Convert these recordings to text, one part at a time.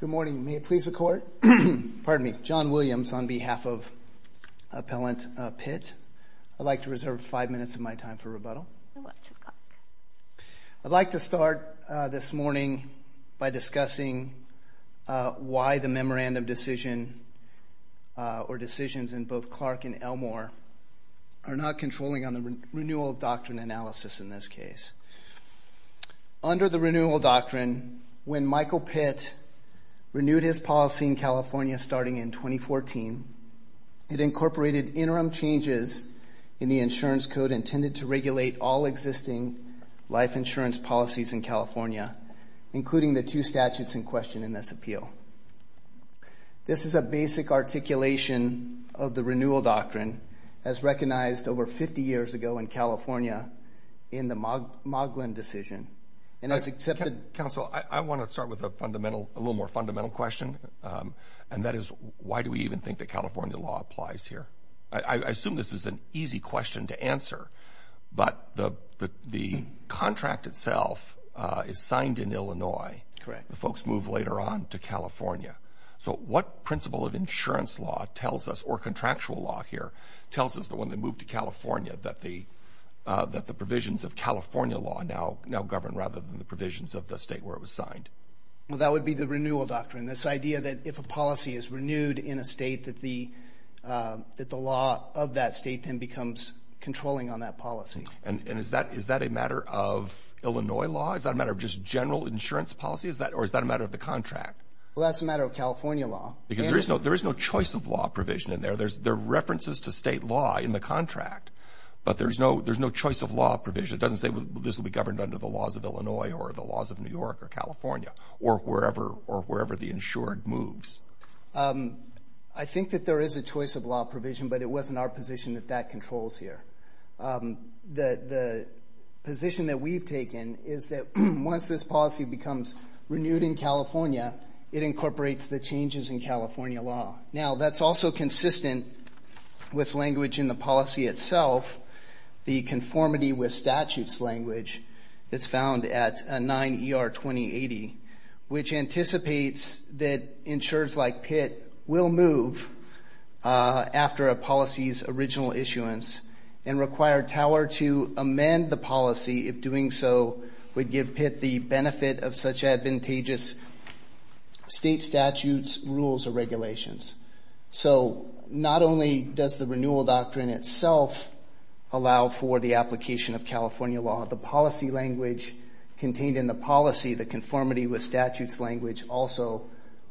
Good morning. May it please the court? Pardon me. John Williams on behalf of Appellant Pitt. I'd like to reserve five minutes of my time for rebuttal. I'd like to start this morning by discussing why the memorandum decision or decisions in both Clark and Elmore are not controlling on the renewal doctrine analysis in this case. Under the renewal doctrine, when Michael Pitt renewed his policy in California starting in 2014, it incorporated interim changes in the insurance code intended to regulate all existing life insurance policies in California, including the two statutes in question in this appeal. This is a basic articulation of the renewal doctrine as recognized over 50 years ago in California in the Moglen decision. Counsel, I want to start with a little more fundamental question, and that is why do we even think that California law applies here? I assume this is an easy question to answer, but the contract itself is signed in Illinois. Correct. The folks move later on to California. So what principle of insurance law tells us, or contractual law here, tells us that when they move to California, that the provisions of California law now govern rather than the provisions of the state where it was signed? Well, that would be the renewal doctrine, this idea that if a policy is renewed in a state, that the law of that state then becomes controlling on that policy. And is that a matter of Illinois law? Is that a matter of just general insurance policy, or is that a matter of the contract? Well, that's a matter of California law. Because there is no choice of law provision in there. There are references to state law in the contract, but there's no choice of law provision. It doesn't say this will be governed under the laws of Illinois or the laws of New York or California or wherever the insured moves. I think that there is a choice of law provision, but it wasn't our position that that controls here. The position that we've taken is that once this policy becomes renewed in California, it incorporates the changes in California law. Now, that's also consistent with language in the policy itself, the conformity with statutes language that's found at 9 ER 2080, which anticipates that insurers like Pitt will move after a policy's original issuance and require Tower to amend the policy if doing so would give Pitt the benefit of such advantageous state statutes, rules, or regulations. So not only does the renewal doctrine itself allow for the application of California law, the policy language contained in the policy, the conformity with statutes language also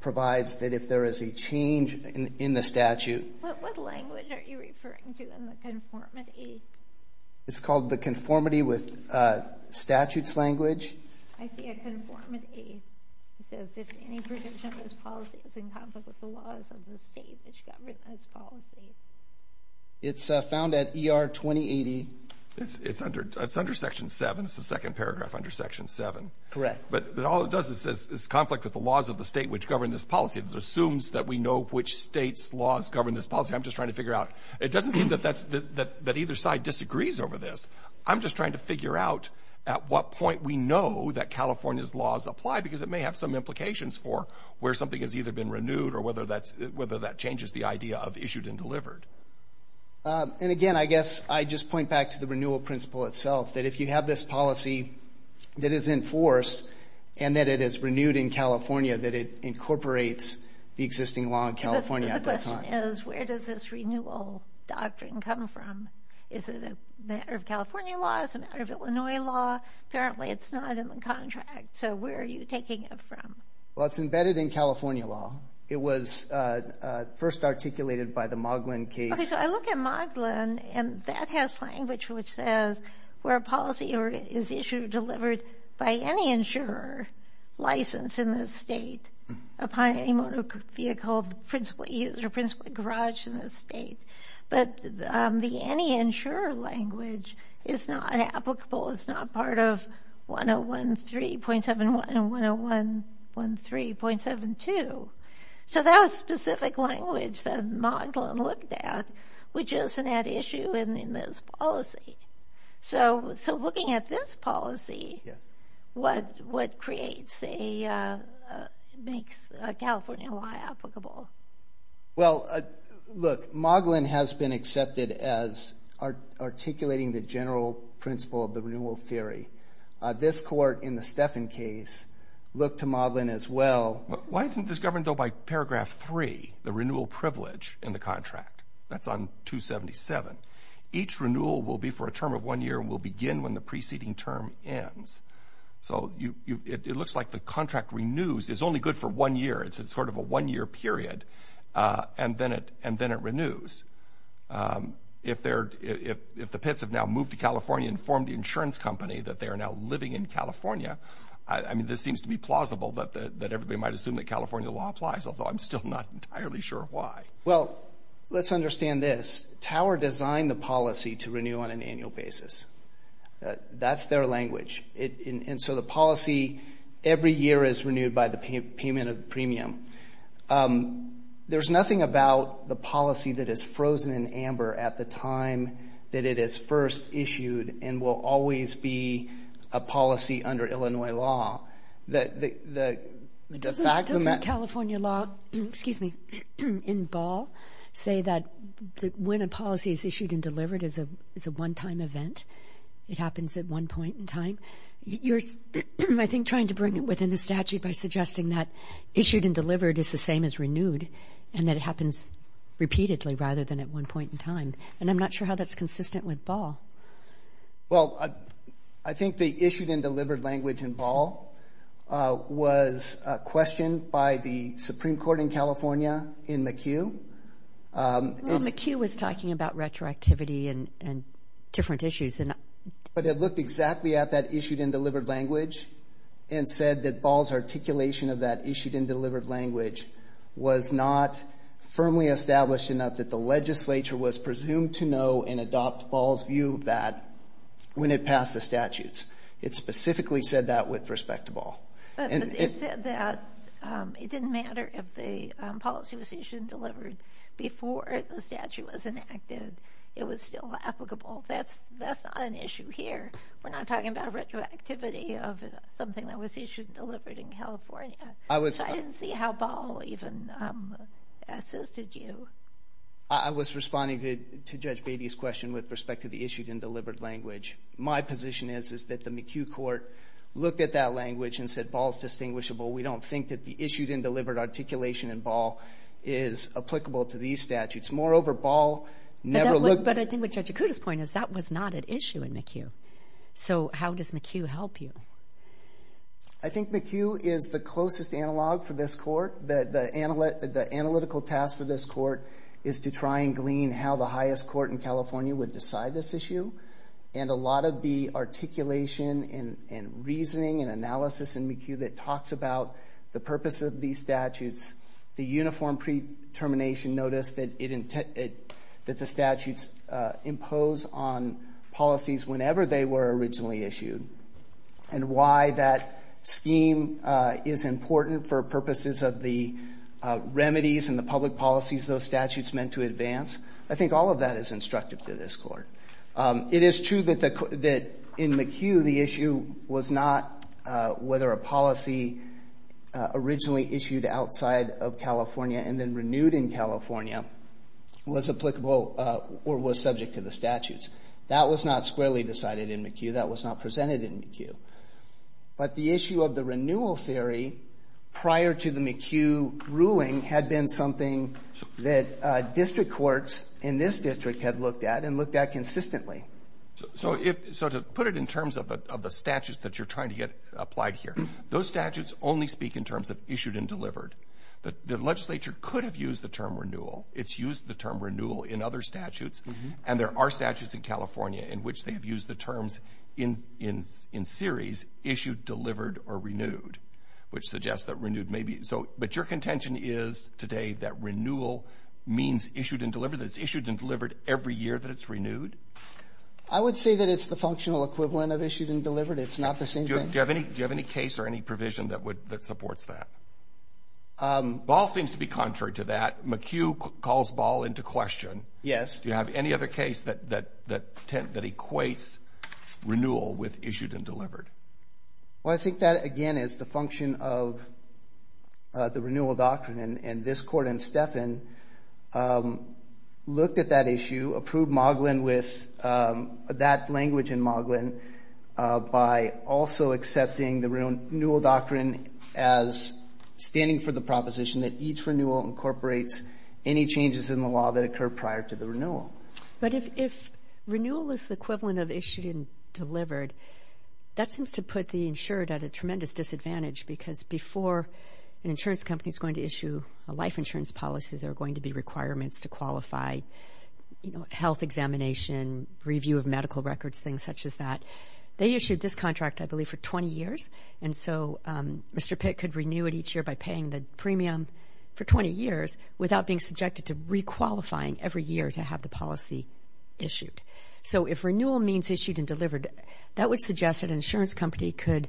provides that if there is a change in the statute. What language are you referring to in the conformity? It's called the conformity with statutes language. I see a conformity. It says if any provision of this policy is in conflict with the laws of the state which govern this policy. It's found at ER 2080. It's under Section 7. It's the second paragraph under Section 7. Correct. But all it does is conflict with the laws of the state which govern this policy. It assumes that we know which state's laws govern this policy. I'm just trying to figure out. It doesn't mean that either side disagrees over this. I'm just trying to figure out at what point we know that California's laws apply because it may have some implications for where something has either been renewed or whether that changes the idea of issued and delivered. Again, I guess I just point back to the renewal principle itself that if you have this policy that is in force and that it is renewed in California that it incorporates the existing law in California at that time. The question is where does this renewal doctrine come from? Is it a matter of California law? Is it a matter of Illinois law? Apparently, it's not in the contract. Where are you taking it from? It's embedded in California law. It was first articulated by the Moglen case. Okay, so I look at Moglen, and that has language which says where a policy is issued or delivered by any insurer licensed in the state upon any motor vehicle of the principal use or principal garage in the state. But the any insurer language is not applicable. It's not part of 1013.71 and 1013.72. So that was specific language that Moglen looked at, which is an issue in this policy. So looking at this policy, what creates a – makes a California law applicable? Well, look, Moglen has been accepted as articulating the general principle of the renewal theory. This court in the Steffen case looked to Moglen as well. Why isn't this governed, though, by paragraph 3, the renewal privilege in the contract? That's on 277. Each renewal will be for a term of one year and will begin when the preceding term ends. So it looks like the contract renews. It's only good for one year. It's sort of a one-year period, and then it renews. If the pits have now moved to California and formed the insurance company that they are now living in California, I mean, this seems to be plausible that everybody might assume that California law applies, although I'm still not entirely sure why. Well, let's understand this. Tower designed the policy to renew on an annual basis. That's their language. And so the policy every year is renewed by the payment of the premium. There's nothing about the policy that is frozen in amber at the time that it is first issued and will always be a policy under Illinois law. Doesn't California law, excuse me, in ball, say that when a policy is issued and delivered, it's a one-time event? It happens at one point in time? You're, I think, trying to bring it within the statute by suggesting that issued and delivered is the same as renewed and that it happens repeatedly rather than at one point in time. And I'm not sure how that's consistent with ball. Well, I think the issued and delivered language in ball was questioned by the Supreme Court in California in McHugh. McHugh was talking about retroactivity and different issues. But it looked exactly at that issued and delivered language and said that ball's articulation of that issued and delivered language was not firmly established enough that the legislature was presumed to know and adopt ball's view of that when it passed the statutes. It specifically said that with respect to ball. But it said that it didn't matter if the policy was issued and delivered before the statute was enacted. It was still applicable. That's not an issue here. We're not talking about retroactivity of something that was issued and delivered in California. So I didn't see how ball even assisted you. I was responding to Judge Beatty's question with respect to the issued and delivered language. My position is is that the McHugh court looked at that language and said ball's distinguishable. We don't think that the issued and delivered articulation in ball is applicable to these statutes. Moreover, ball never looked. But I think what Judge Akuta's point is that was not an issue in McHugh. So how does McHugh help you? I think McHugh is the closest analog for this court. The analytical task for this court is to try and glean how the highest court in California would decide this issue. And a lot of the articulation and reasoning and analysis in McHugh that talks about the purpose of these statutes, the uniform pre-termination notice that the statutes impose on policies whenever they were originally issued, and why that scheme is important for purposes of the remedies and the public policies those statutes meant to advance. I think all of that is instructive to this court. It is true that in McHugh the issue was not whether a policy originally issued outside of California and then renewed in California was applicable or was subject to the statutes. That was not squarely decided in McHugh. That was not presented in McHugh. But the issue of the renewal theory prior to the McHugh ruling had been something that district courts in this district had looked at and looked at consistently. So to put it in terms of the statutes that you're trying to get applied here, those statutes only speak in terms of issued and delivered. The legislature could have used the term renewal. It's used the term renewal in other statutes. And there are statutes in California in which they have used the terms in series issued, delivered, or renewed, which suggests that renewed may be. But your contention is today that renewal means issued and delivered, that it's issued and delivered every year that it's renewed? I would say that it's the functional equivalent of issued and delivered. It's not the same thing. Do you have any case or any provision that supports that? Ball seems to be contrary to that. McHugh calls Ball into question. Yes. Do you have any other case that equates renewal with issued and delivered? Well, I think that, again, is the function of the renewal doctrine. And this Court in Steffen looked at that issue, approved Moglen with that language in Moglen, by also accepting the renewal doctrine as standing for the proposition that each renewal incorporates any changes in the law that occur prior to the renewal. But if renewal is the equivalent of issued and delivered, that seems to put the insured at a tremendous disadvantage because before an insurance company is going to issue a life insurance policy, there are going to be requirements to qualify health examination, review of medical records, things such as that. They issued this contract, I believe, for 20 years. And so Mr. Pitt could renew it each year by paying the premium for 20 years without being subjected to requalifying every year to have the policy issued. So if renewal means issued and delivered, that would suggest that an insurance company could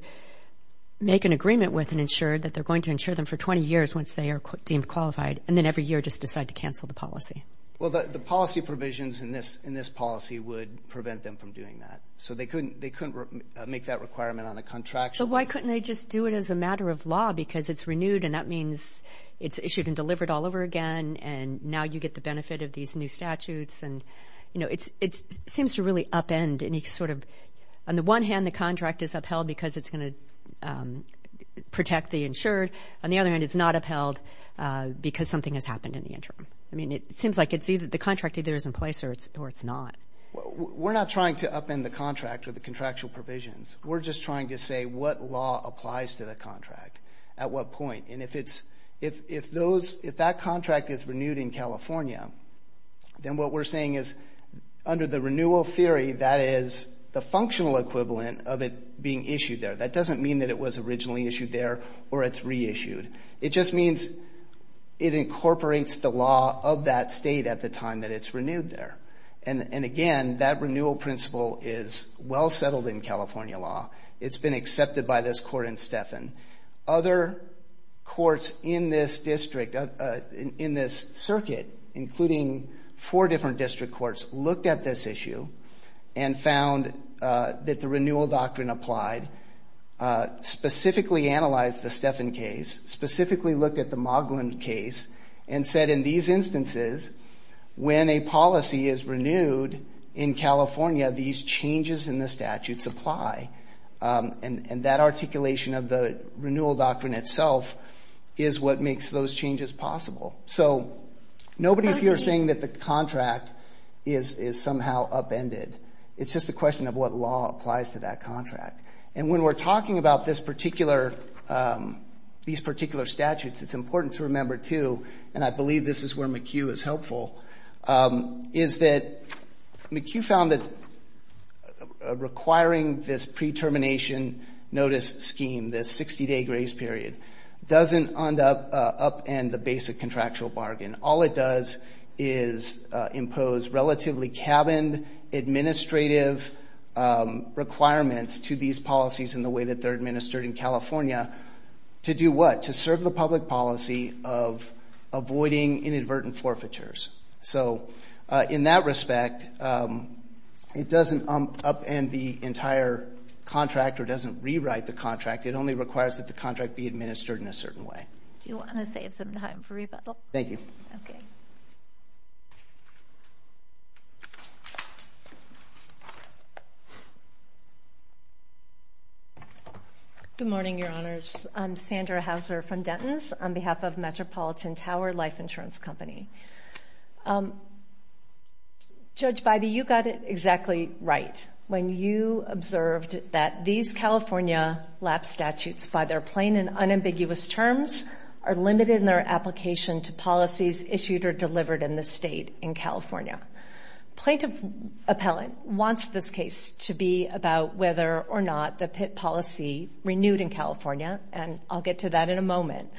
make an agreement with an insured that they're going to insure them for 20 years once they are deemed qualified and then every year just decide to cancel the policy. Well, the policy provisions in this policy would prevent them from doing that. So they couldn't make that requirement on a contractual basis. So why couldn't they just do it as a matter of law because it's renewed and that means it's issued and delivered all over again and now you get the benefit of these new statutes. And, you know, it seems to really upend any sort of – on the one hand, the contract is upheld because it's going to protect the insured. On the other hand, it's not upheld because something has happened in the interim. I mean, it seems like it's either – the contract either is in place or it's not. We're not trying to upend the contract or the contractual provisions. We're just trying to say what law applies to the contract at what point. And if it's – if that contract is renewed in California, then what we're saying is under the renewal theory, that is the functional equivalent of it being issued there. That doesn't mean that it was originally issued there or it's reissued. It just means it incorporates the law of that state at the time that it's renewed there. And, again, that renewal principle is well settled in California law. It's been accepted by this court in Steffen. Other courts in this district, in this circuit, including four different district courts, looked at this issue and found that the renewal doctrine applied, specifically analyzed the Steffen case, specifically looked at the Moglin case, and said in these instances when a policy is renewed in California, these changes in the statutes apply. And that articulation of the renewal doctrine itself is what makes those changes possible. So nobody's here saying that the contract is somehow upended. It's just a question of what law applies to that contract. And when we're talking about this particular – these particular statutes, it's important to remember, too, and I believe this is where McHugh is helpful, is that McHugh found that requiring this pre-termination notice scheme, this 60-day grace period, doesn't upend the basic contractual bargain. All it does is impose relatively cabined administrative requirements to these policies in the way that they're administered in California. To do what? To serve the public policy of avoiding inadvertent forfeitures. So in that respect, it doesn't upend the entire contract or doesn't rewrite the contract. It only requires that the contract be administered in a certain way. Do you want to save some time for rebuttal? Thank you. Good morning, Your Honors. I'm Sandra Hauser from Denton's on behalf of Metropolitan Tower Life Insurance Company. Judge Bybee, you got it exactly right when you observed that these California LAP statutes, by their plain and unambiguous terms, are limited in their application to policies issued or delivered in the state in California. Plaintiff appellant wants this case to be about whether or not the PIT policy renewed in California, and I'll get to that in a moment.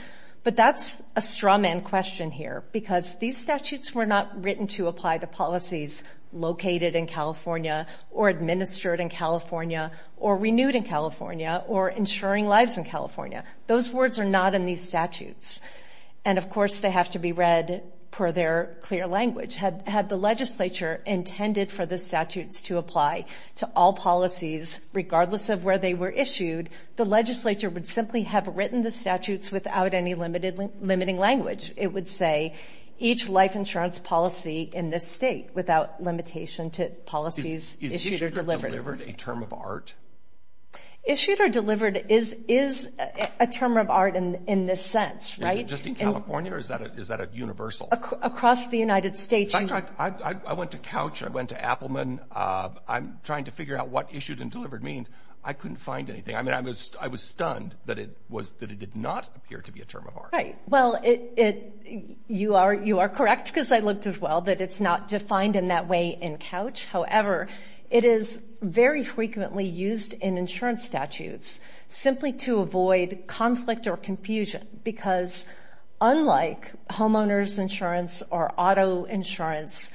But that's a strawman question here because these statutes were not written to apply to policies located in California or administered in California or renewed in California or ensuring lives in California. Those words are not in these statutes. And, of course, they have to be read per their clear language. Had the legislature intended for the statutes to apply to all policies, regardless of where they were issued, the legislature would simply have written the statutes without any limiting language. It would say each life insurance policy in this state without limitation to policies issued or delivered. Is issued or delivered a term of art? Issued or delivered is a term of art in this sense, right? Is it just in California or is that a universal? Across the United States. I went to Couch. I went to Appelman. I'm trying to figure out what issued and delivered means. I couldn't find anything. I mean, I was stunned that it did not appear to be a term of art. Right. Well, you are correct, because I looked as well, that it's not defined in that way in Couch. However, it is very frequently used in insurance statutes simply to avoid conflict or confusion because unlike homeowner's insurance or auto insurance,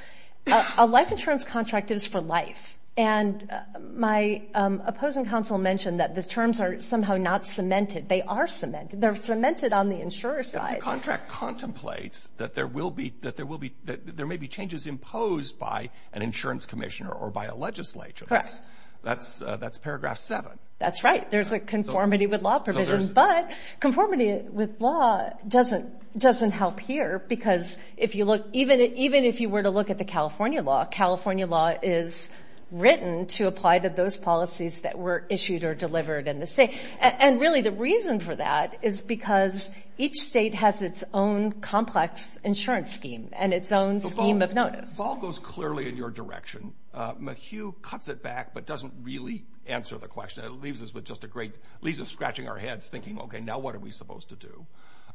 a life insurance contract is for life. And my opposing counsel mentioned that the terms are somehow not cemented. They are cemented. They're cemented on the insurer's side. The contract contemplates that there may be changes imposed by an insurance commissioner or by a legislature. That's paragraph 7. That's right. There's a conformity with law provisions. But conformity with law doesn't help here because even if you were to look at the California law, California law is written to apply to those policies that were issued or delivered in the state. And really the reason for that is because each state has its own complex insurance scheme and its own scheme of notice. The ball goes clearly in your direction. McHugh cuts it back but doesn't really answer the question. It leaves us scratching our heads thinking, okay, now what are we supposed to do?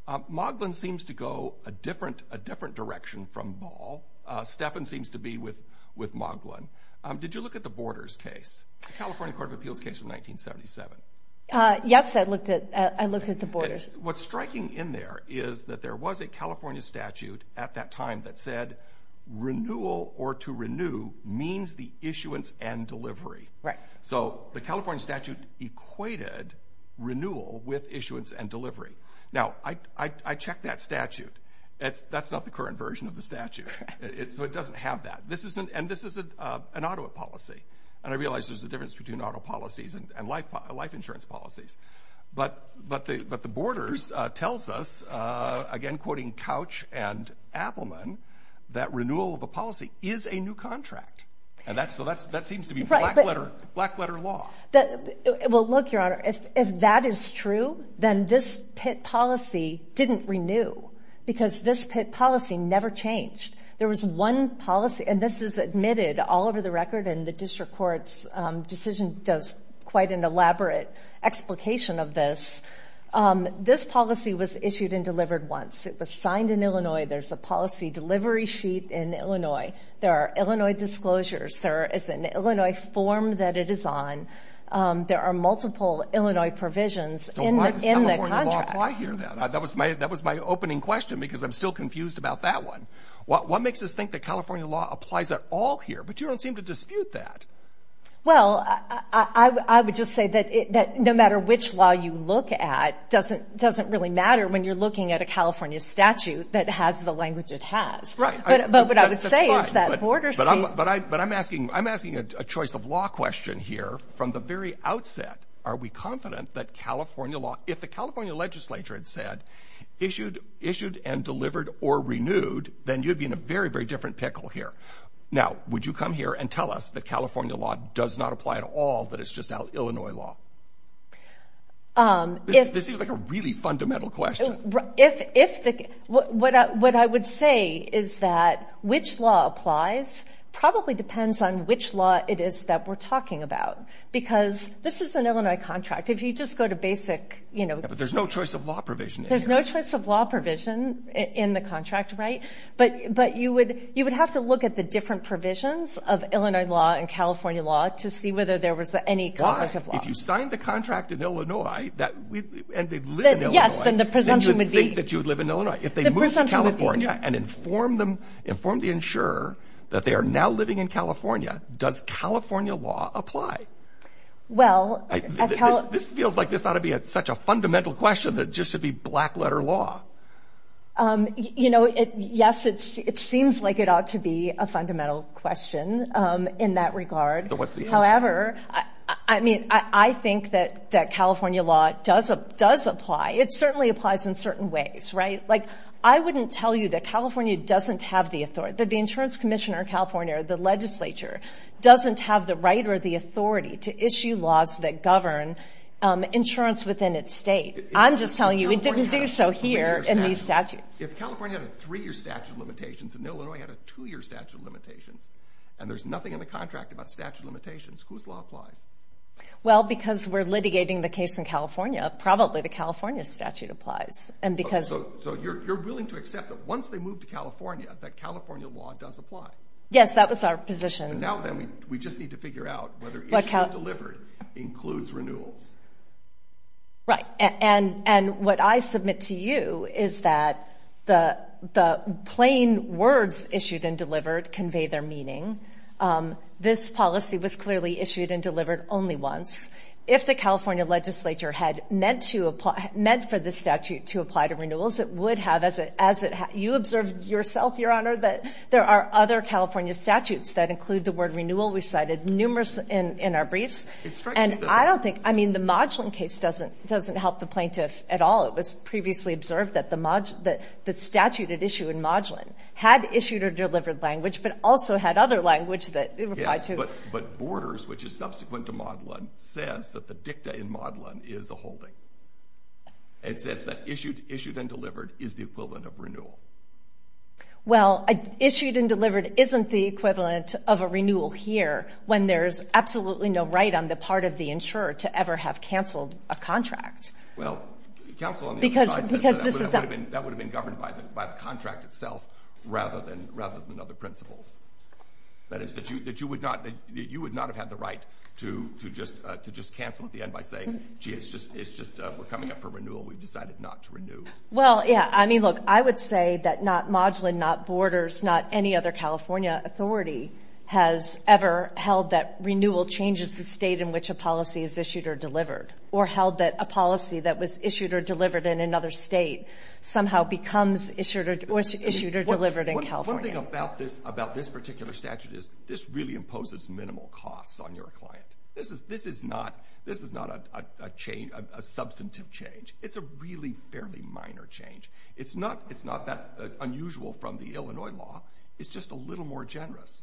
Moglen seems to go a different direction from ball. Stephan seems to be with Moglen. Did you look at the Borders case, the California Court of Appeals case from 1977? Yes, I looked at the Borders. What's striking in there is that there was a California statute at that time that said renewal or to renew means the issuance and delivery. Right. So the California statute equated renewal with issuance and delivery. Now, I checked that statute. That's not the current version of the statute. So it doesn't have that. And this is an Ottawa policy. And I realize there's a difference between Ottawa policies and life insurance policies. But the Borders tells us, again quoting Couch and Appelman, that renewal of a policy is a new contract. So that seems to be black-letter law. Well, look, Your Honor, if that is true, then this PITT policy didn't renew because this PITT policy never changed. There was one policy, and this is admitted all over the record, and the district court's decision does quite an elaborate explication of this. This policy was issued and delivered once. It was signed in Illinois. There's a policy delivery sheet in Illinois. There are Illinois disclosures. There is an Illinois form that it is on. There are multiple Illinois provisions in the contract. That was my opening question because I'm still confused about that one. What makes us think that California law applies at all here? But you don't seem to dispute that. Well, I would just say that no matter which law you look at, it doesn't really matter when you're looking at a California statute that has the language it has. Right. But what I would say is that borders speak. But I'm asking a choice of law question here. From the very outset, are we confident that California law, if the California legislature had said issued and delivered or renewed, then you'd be in a very, very different pickle here. Now, would you come here and tell us that California law does not apply at all, that it's just Illinois law? This seems like a really fundamental question. What I would say is that which law applies probably depends on which law it is that we're talking about because this is an Illinois contract. If you just go to basic, you know. But there's no choice of law provision. There's no choice of law provision in the contract. Right. But you would have to look at the different provisions of Illinois law and California law to see whether there was any conflict of law. If you signed the contract in Illinois and they live in Illinois. Yes, then the presumption would be. Then you would think that you would live in Illinois. The presumption would be. If they moved to California and informed the insurer that they are now living in California, does California law apply? Well. This feels like this ought to be such a fundamental question that it just should be black letter law. You know, yes, it seems like it ought to be a fundamental question in that regard. What's the answer? However, I mean, I think that California law does apply. It certainly applies in certain ways. Right. Like, I wouldn't tell you that California doesn't have the authority. That the insurance commissioner of California or the legislature doesn't have the right or the authority to issue laws that govern insurance within its state. I'm just telling you it didn't do so here in these statutes. If California had a three-year statute of limitations and Illinois had a two-year statute of limitations and there's nothing in the contract about statute of limitations, whose law applies? Well, because we're litigating the case in California, probably the California statute applies. And because. So you're willing to accept that once they move to California, that California law does apply? Yes, that was our position. Now then, we just need to figure out whether issue delivered includes renewals. Right. And what I submit to you is that the plain words issued and delivered convey their meaning. This policy was clearly issued and delivered only once. If the California legislature had meant for this statute to apply to renewals, it would have. You observed yourself, Your Honor, that there are other California statutes that include the word renewal. We cited numerous in our briefs. And I don't think. I mean, the Modulin case doesn't help the plaintiff at all. It was previously observed that the statute at issue in Modulin had issued or delivered language but also had other language that it applied to. But Borders, which is subsequent to Modulin, says that the dicta in Modulin is a holding. It says that issued and delivered is the equivalent of renewal. Well, issued and delivered isn't the equivalent of a renewal here when there's absolutely no right on the part of the insurer to ever have canceled a contract. Well, counsel on the other side said that would have been governed by the contract itself rather than other principles. That is, that you would not have had the right to just cancel at the end by saying, gee, it's just we're coming up for renewal. We've decided not to renew. Well, yeah. I mean, look, I would say that not Modulin, not Borders, not any other California authority has ever held that renewal changes the state in which a policy is issued or delivered or held that a policy that was issued or delivered in another state somehow becomes issued or delivered in California. One thing about this particular statute is this really imposes minimal costs on your client. This is not a substantive change. It's a really fairly minor change. It's not that unusual from the Illinois law. It's just a little more generous.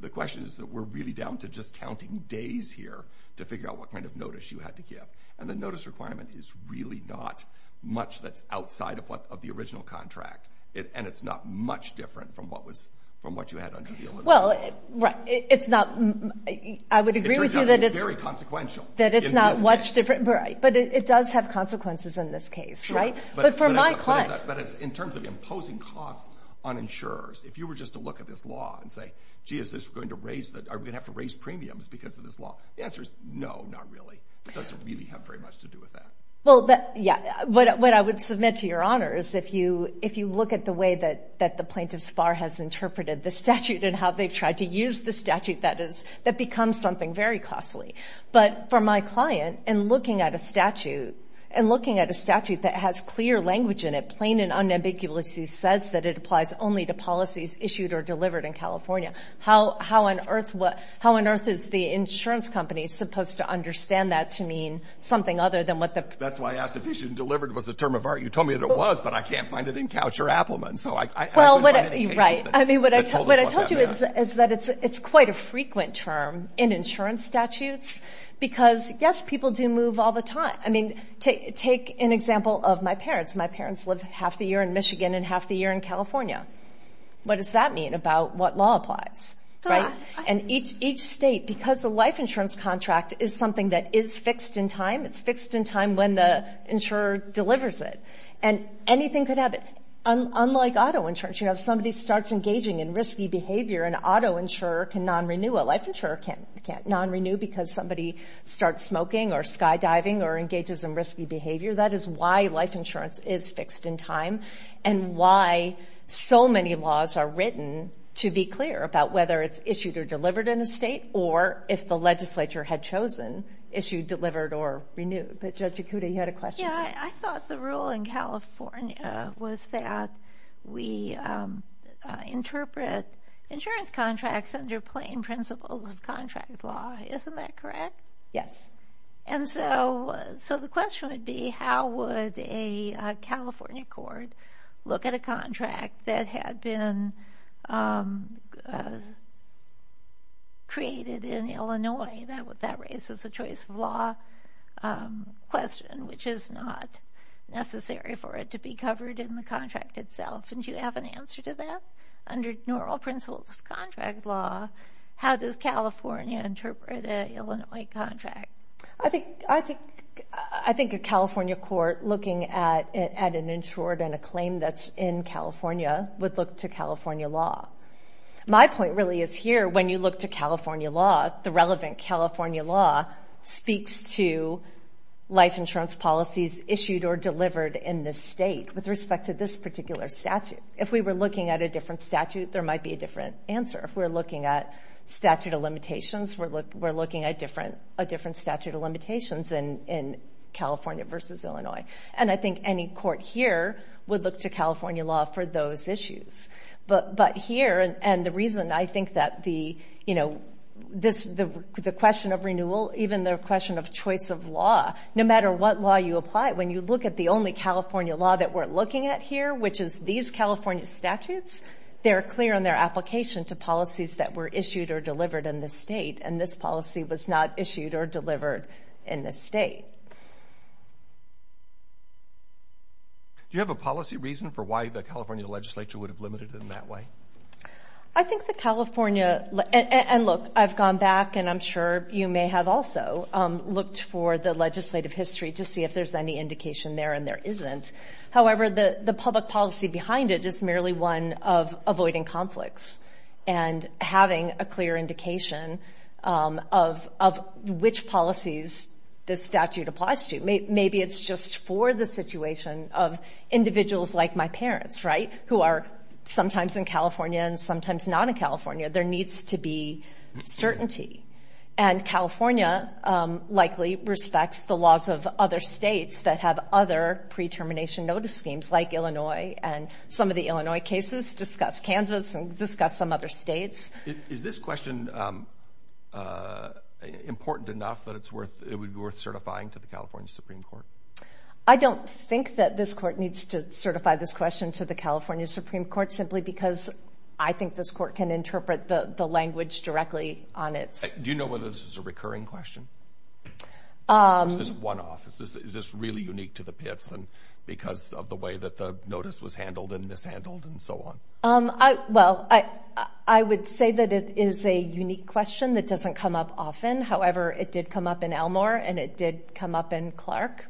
The question is that we're really down to just counting days here to figure out what kind of notice you had to give, and the notice requirement is really not much that's outside of the original contract, and it's not much different from what you had under the Illinois law. Well, right. It's not. I would agree with you that it's very consequential. That it's not much different. Right. But it does have consequences in this case, right? But for my client. But in terms of imposing costs on insurers, if you were just to look at this law and say, gee, are we going to have to raise premiums because of this law? The answer is no, not really. It doesn't really have very much to do with that. Well, yeah. What I would submit to Your Honor is if you look at the way that the plaintiff's bar has interpreted the statute and how they've tried to use the statute, that becomes something very costly. But for my client, in looking at a statute, in looking at a statute that has clear language in it, plain and unambiguously says that it applies only to policies issued or delivered in California. How on earth is the insurance company supposed to understand that to mean something other than what the – That's why I asked if issued and delivered was a term of art. You told me that it was, but I can't find it in Couch or Appelman. Well, right. I mean, what I told you is that it's quite a frequent term in insurance statutes. Because, yes, people do move all the time. I mean, take an example of my parents. My parents lived half the year in Michigan and half the year in California. What does that mean about what law applies, right? And each state, because the life insurance contract is something that is fixed in time, it's fixed in time when the insurer delivers it, and anything could happen. Unlike auto insurance, you know, if somebody starts engaging in risky behavior, an auto insurer can non-renew. A life insurer can't non-renew because somebody starts smoking or skydiving or engages in risky behavior. That is why life insurance is fixed in time and why so many laws are written to be clear about whether it's issued or delivered in a state or if the legislature had chosen issued, delivered, or renewed. But, Judge Ikuda, you had a question. Yeah, I thought the rule in California was that we interpret insurance contracts under plain principles of contract law. Isn't that correct? Yes. And so the question would be how would a California court look at a contract that had been created in Illinois that raises a choice of law question, which is not necessary for it to be covered in the contract itself. And do you have an answer to that? Under normal principles of contract law, how does California interpret an Illinois contract? I think a California court looking at an insured and a claim that's in California would look to California law. My point really is here, when you look to California law, the relevant California law speaks to life insurance policies issued or delivered in this state with respect to this particular statute. If we were looking at a different statute, there might be a different answer. If we're looking at statute of limitations, we're looking at a different statute of limitations in California versus Illinois. And I think any court here would look to California law for those issues. But here, and the reason I think that the question of renewal, even the question of choice of law, no matter what law you apply, when you look at the only California law that we're looking at here, which is these California statutes, they're clear in their application to policies that were issued or delivered in this state, and this policy was not issued or delivered in this state. Do you have a policy reason for why the California legislature would have limited it in that way? I think the California, and look, I've gone back, and I'm sure you may have also looked for the legislative history to see if there's any indication there, and there isn't. However, the public policy behind it is merely one of avoiding conflicts and having a clear indication of which policies this statute applies to. Maybe it's just for the situation of individuals like my parents, right, who are sometimes in California and sometimes not in California. There needs to be certainty. And California likely respects the laws of other states that have other pre-termination notice schemes like Illinois, and some of the Illinois cases discuss Kansas and discuss some other states. Is this question important enough that it would be worth certifying to the California Supreme Court? I don't think that this court needs to certify this question to the California Supreme Court simply because I think this court can interpret the language directly on it. Do you know whether this is a recurring question? Is this one-off? Is this really unique to the Pitts because of the way that the notice was handled and mishandled and so on? Well, I would say that it is a unique question that doesn't come up often. However, it did come up in Elmore, and it did come up in Clark.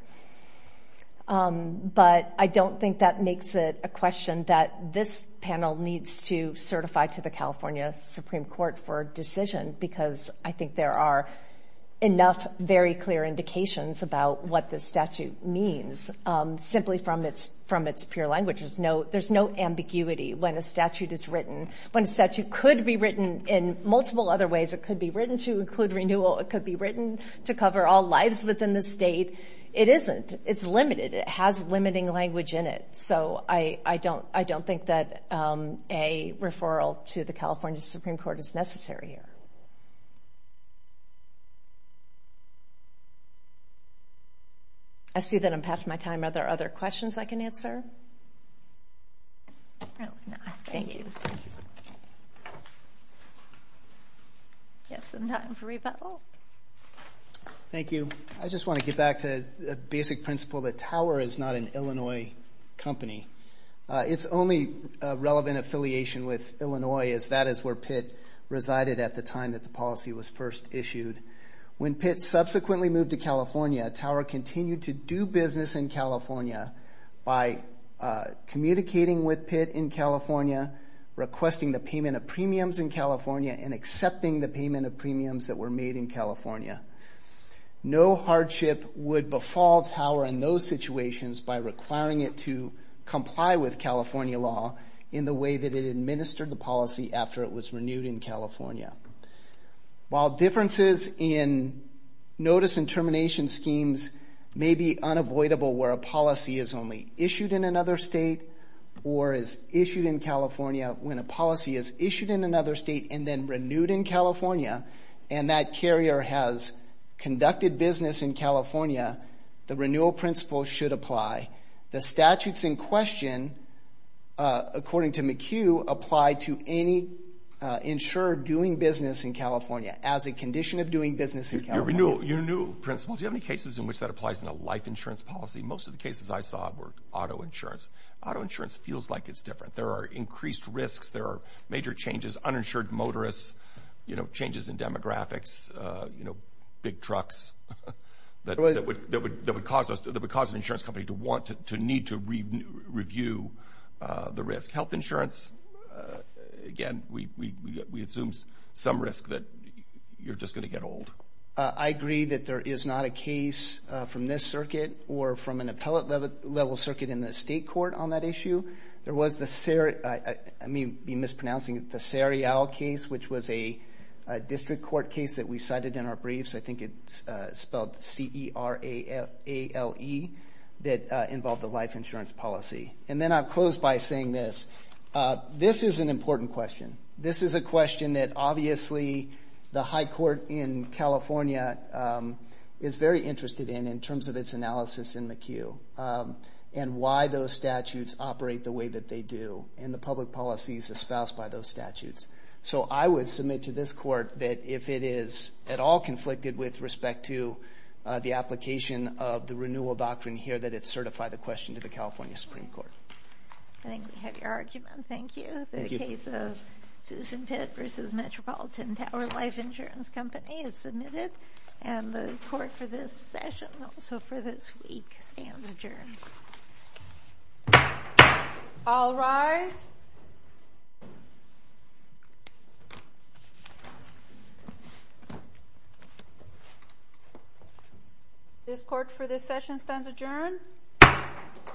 But I don't think that makes it a question that this panel needs to certify to the California Supreme Court for a decision because I think there are enough very clear indications about what this statute means simply from its pure language. There's no ambiguity when a statute is written. When a statute could be written in multiple other ways, it could be written to include renewal, it could be written to cover all lives within the state. It isn't. It's limited. It has limiting language in it. So I don't think that a referral to the California Supreme Court is necessary here. I see that I'm past my time. Are there other questions I can answer? No, thank you. We have some time for rebuttal. Thank you. I just want to get back to the basic principle that Tower is not an Illinois company. Its only relevant affiliation with Illinois is that is where Pitt resided at the time that the policy was first issued. When Pitt subsequently moved to California, Tower continued to do business in California by communicating with Pitt in California requesting the payment of premiums in California and accepting the payment of premiums that were made in California. No hardship would befall Tower in those situations by requiring it to comply with California law in the way that it administered the policy after it was renewed in California. While differences in notice and termination schemes may be unavoidable where a policy is only issued in another state or is issued in California when a policy is issued in another state and then renewed in California and that carrier has conducted business in California, the renewal principle should apply. The statutes in question, according to McHugh, apply to any insurer doing business in California as a condition of doing business in California. Your renewal principle, do you have any cases in which that applies in a life insurance policy? Most of the cases I saw were auto insurance. Auto insurance feels like it's different. There are increased risks. There are major changes, uninsured motorists, changes in demographics, big trucks that would cause an insurance company to need to review the risk. Health insurance, again, we assume some risk that you're just going to get old. I agree that there is not a case from this circuit or from an appellate level circuit in the state court on that issue. There was the Sarial case, which was a district court case that we cited in our briefs. I think it's spelled C-E-R-A-L-E that involved a life insurance policy. And then I'll close by saying this. This is an important question. This is a question that obviously the high court in California is very interested in in terms of its analysis in McHugh and why those statutes operate the way that they do and the public policies espoused by those statutes. So I would submit to this court that if it is at all conflicted with respect to the application of the renewal doctrine here, that it certify the question to the California Supreme Court. I think we have your argument. Thank you. The case of Susan Pitt v. Metropolitan Tower Life Insurance Company is submitted. And the court for this session, also for this week, stands adjourned. All rise. This court for this session stands adjourned.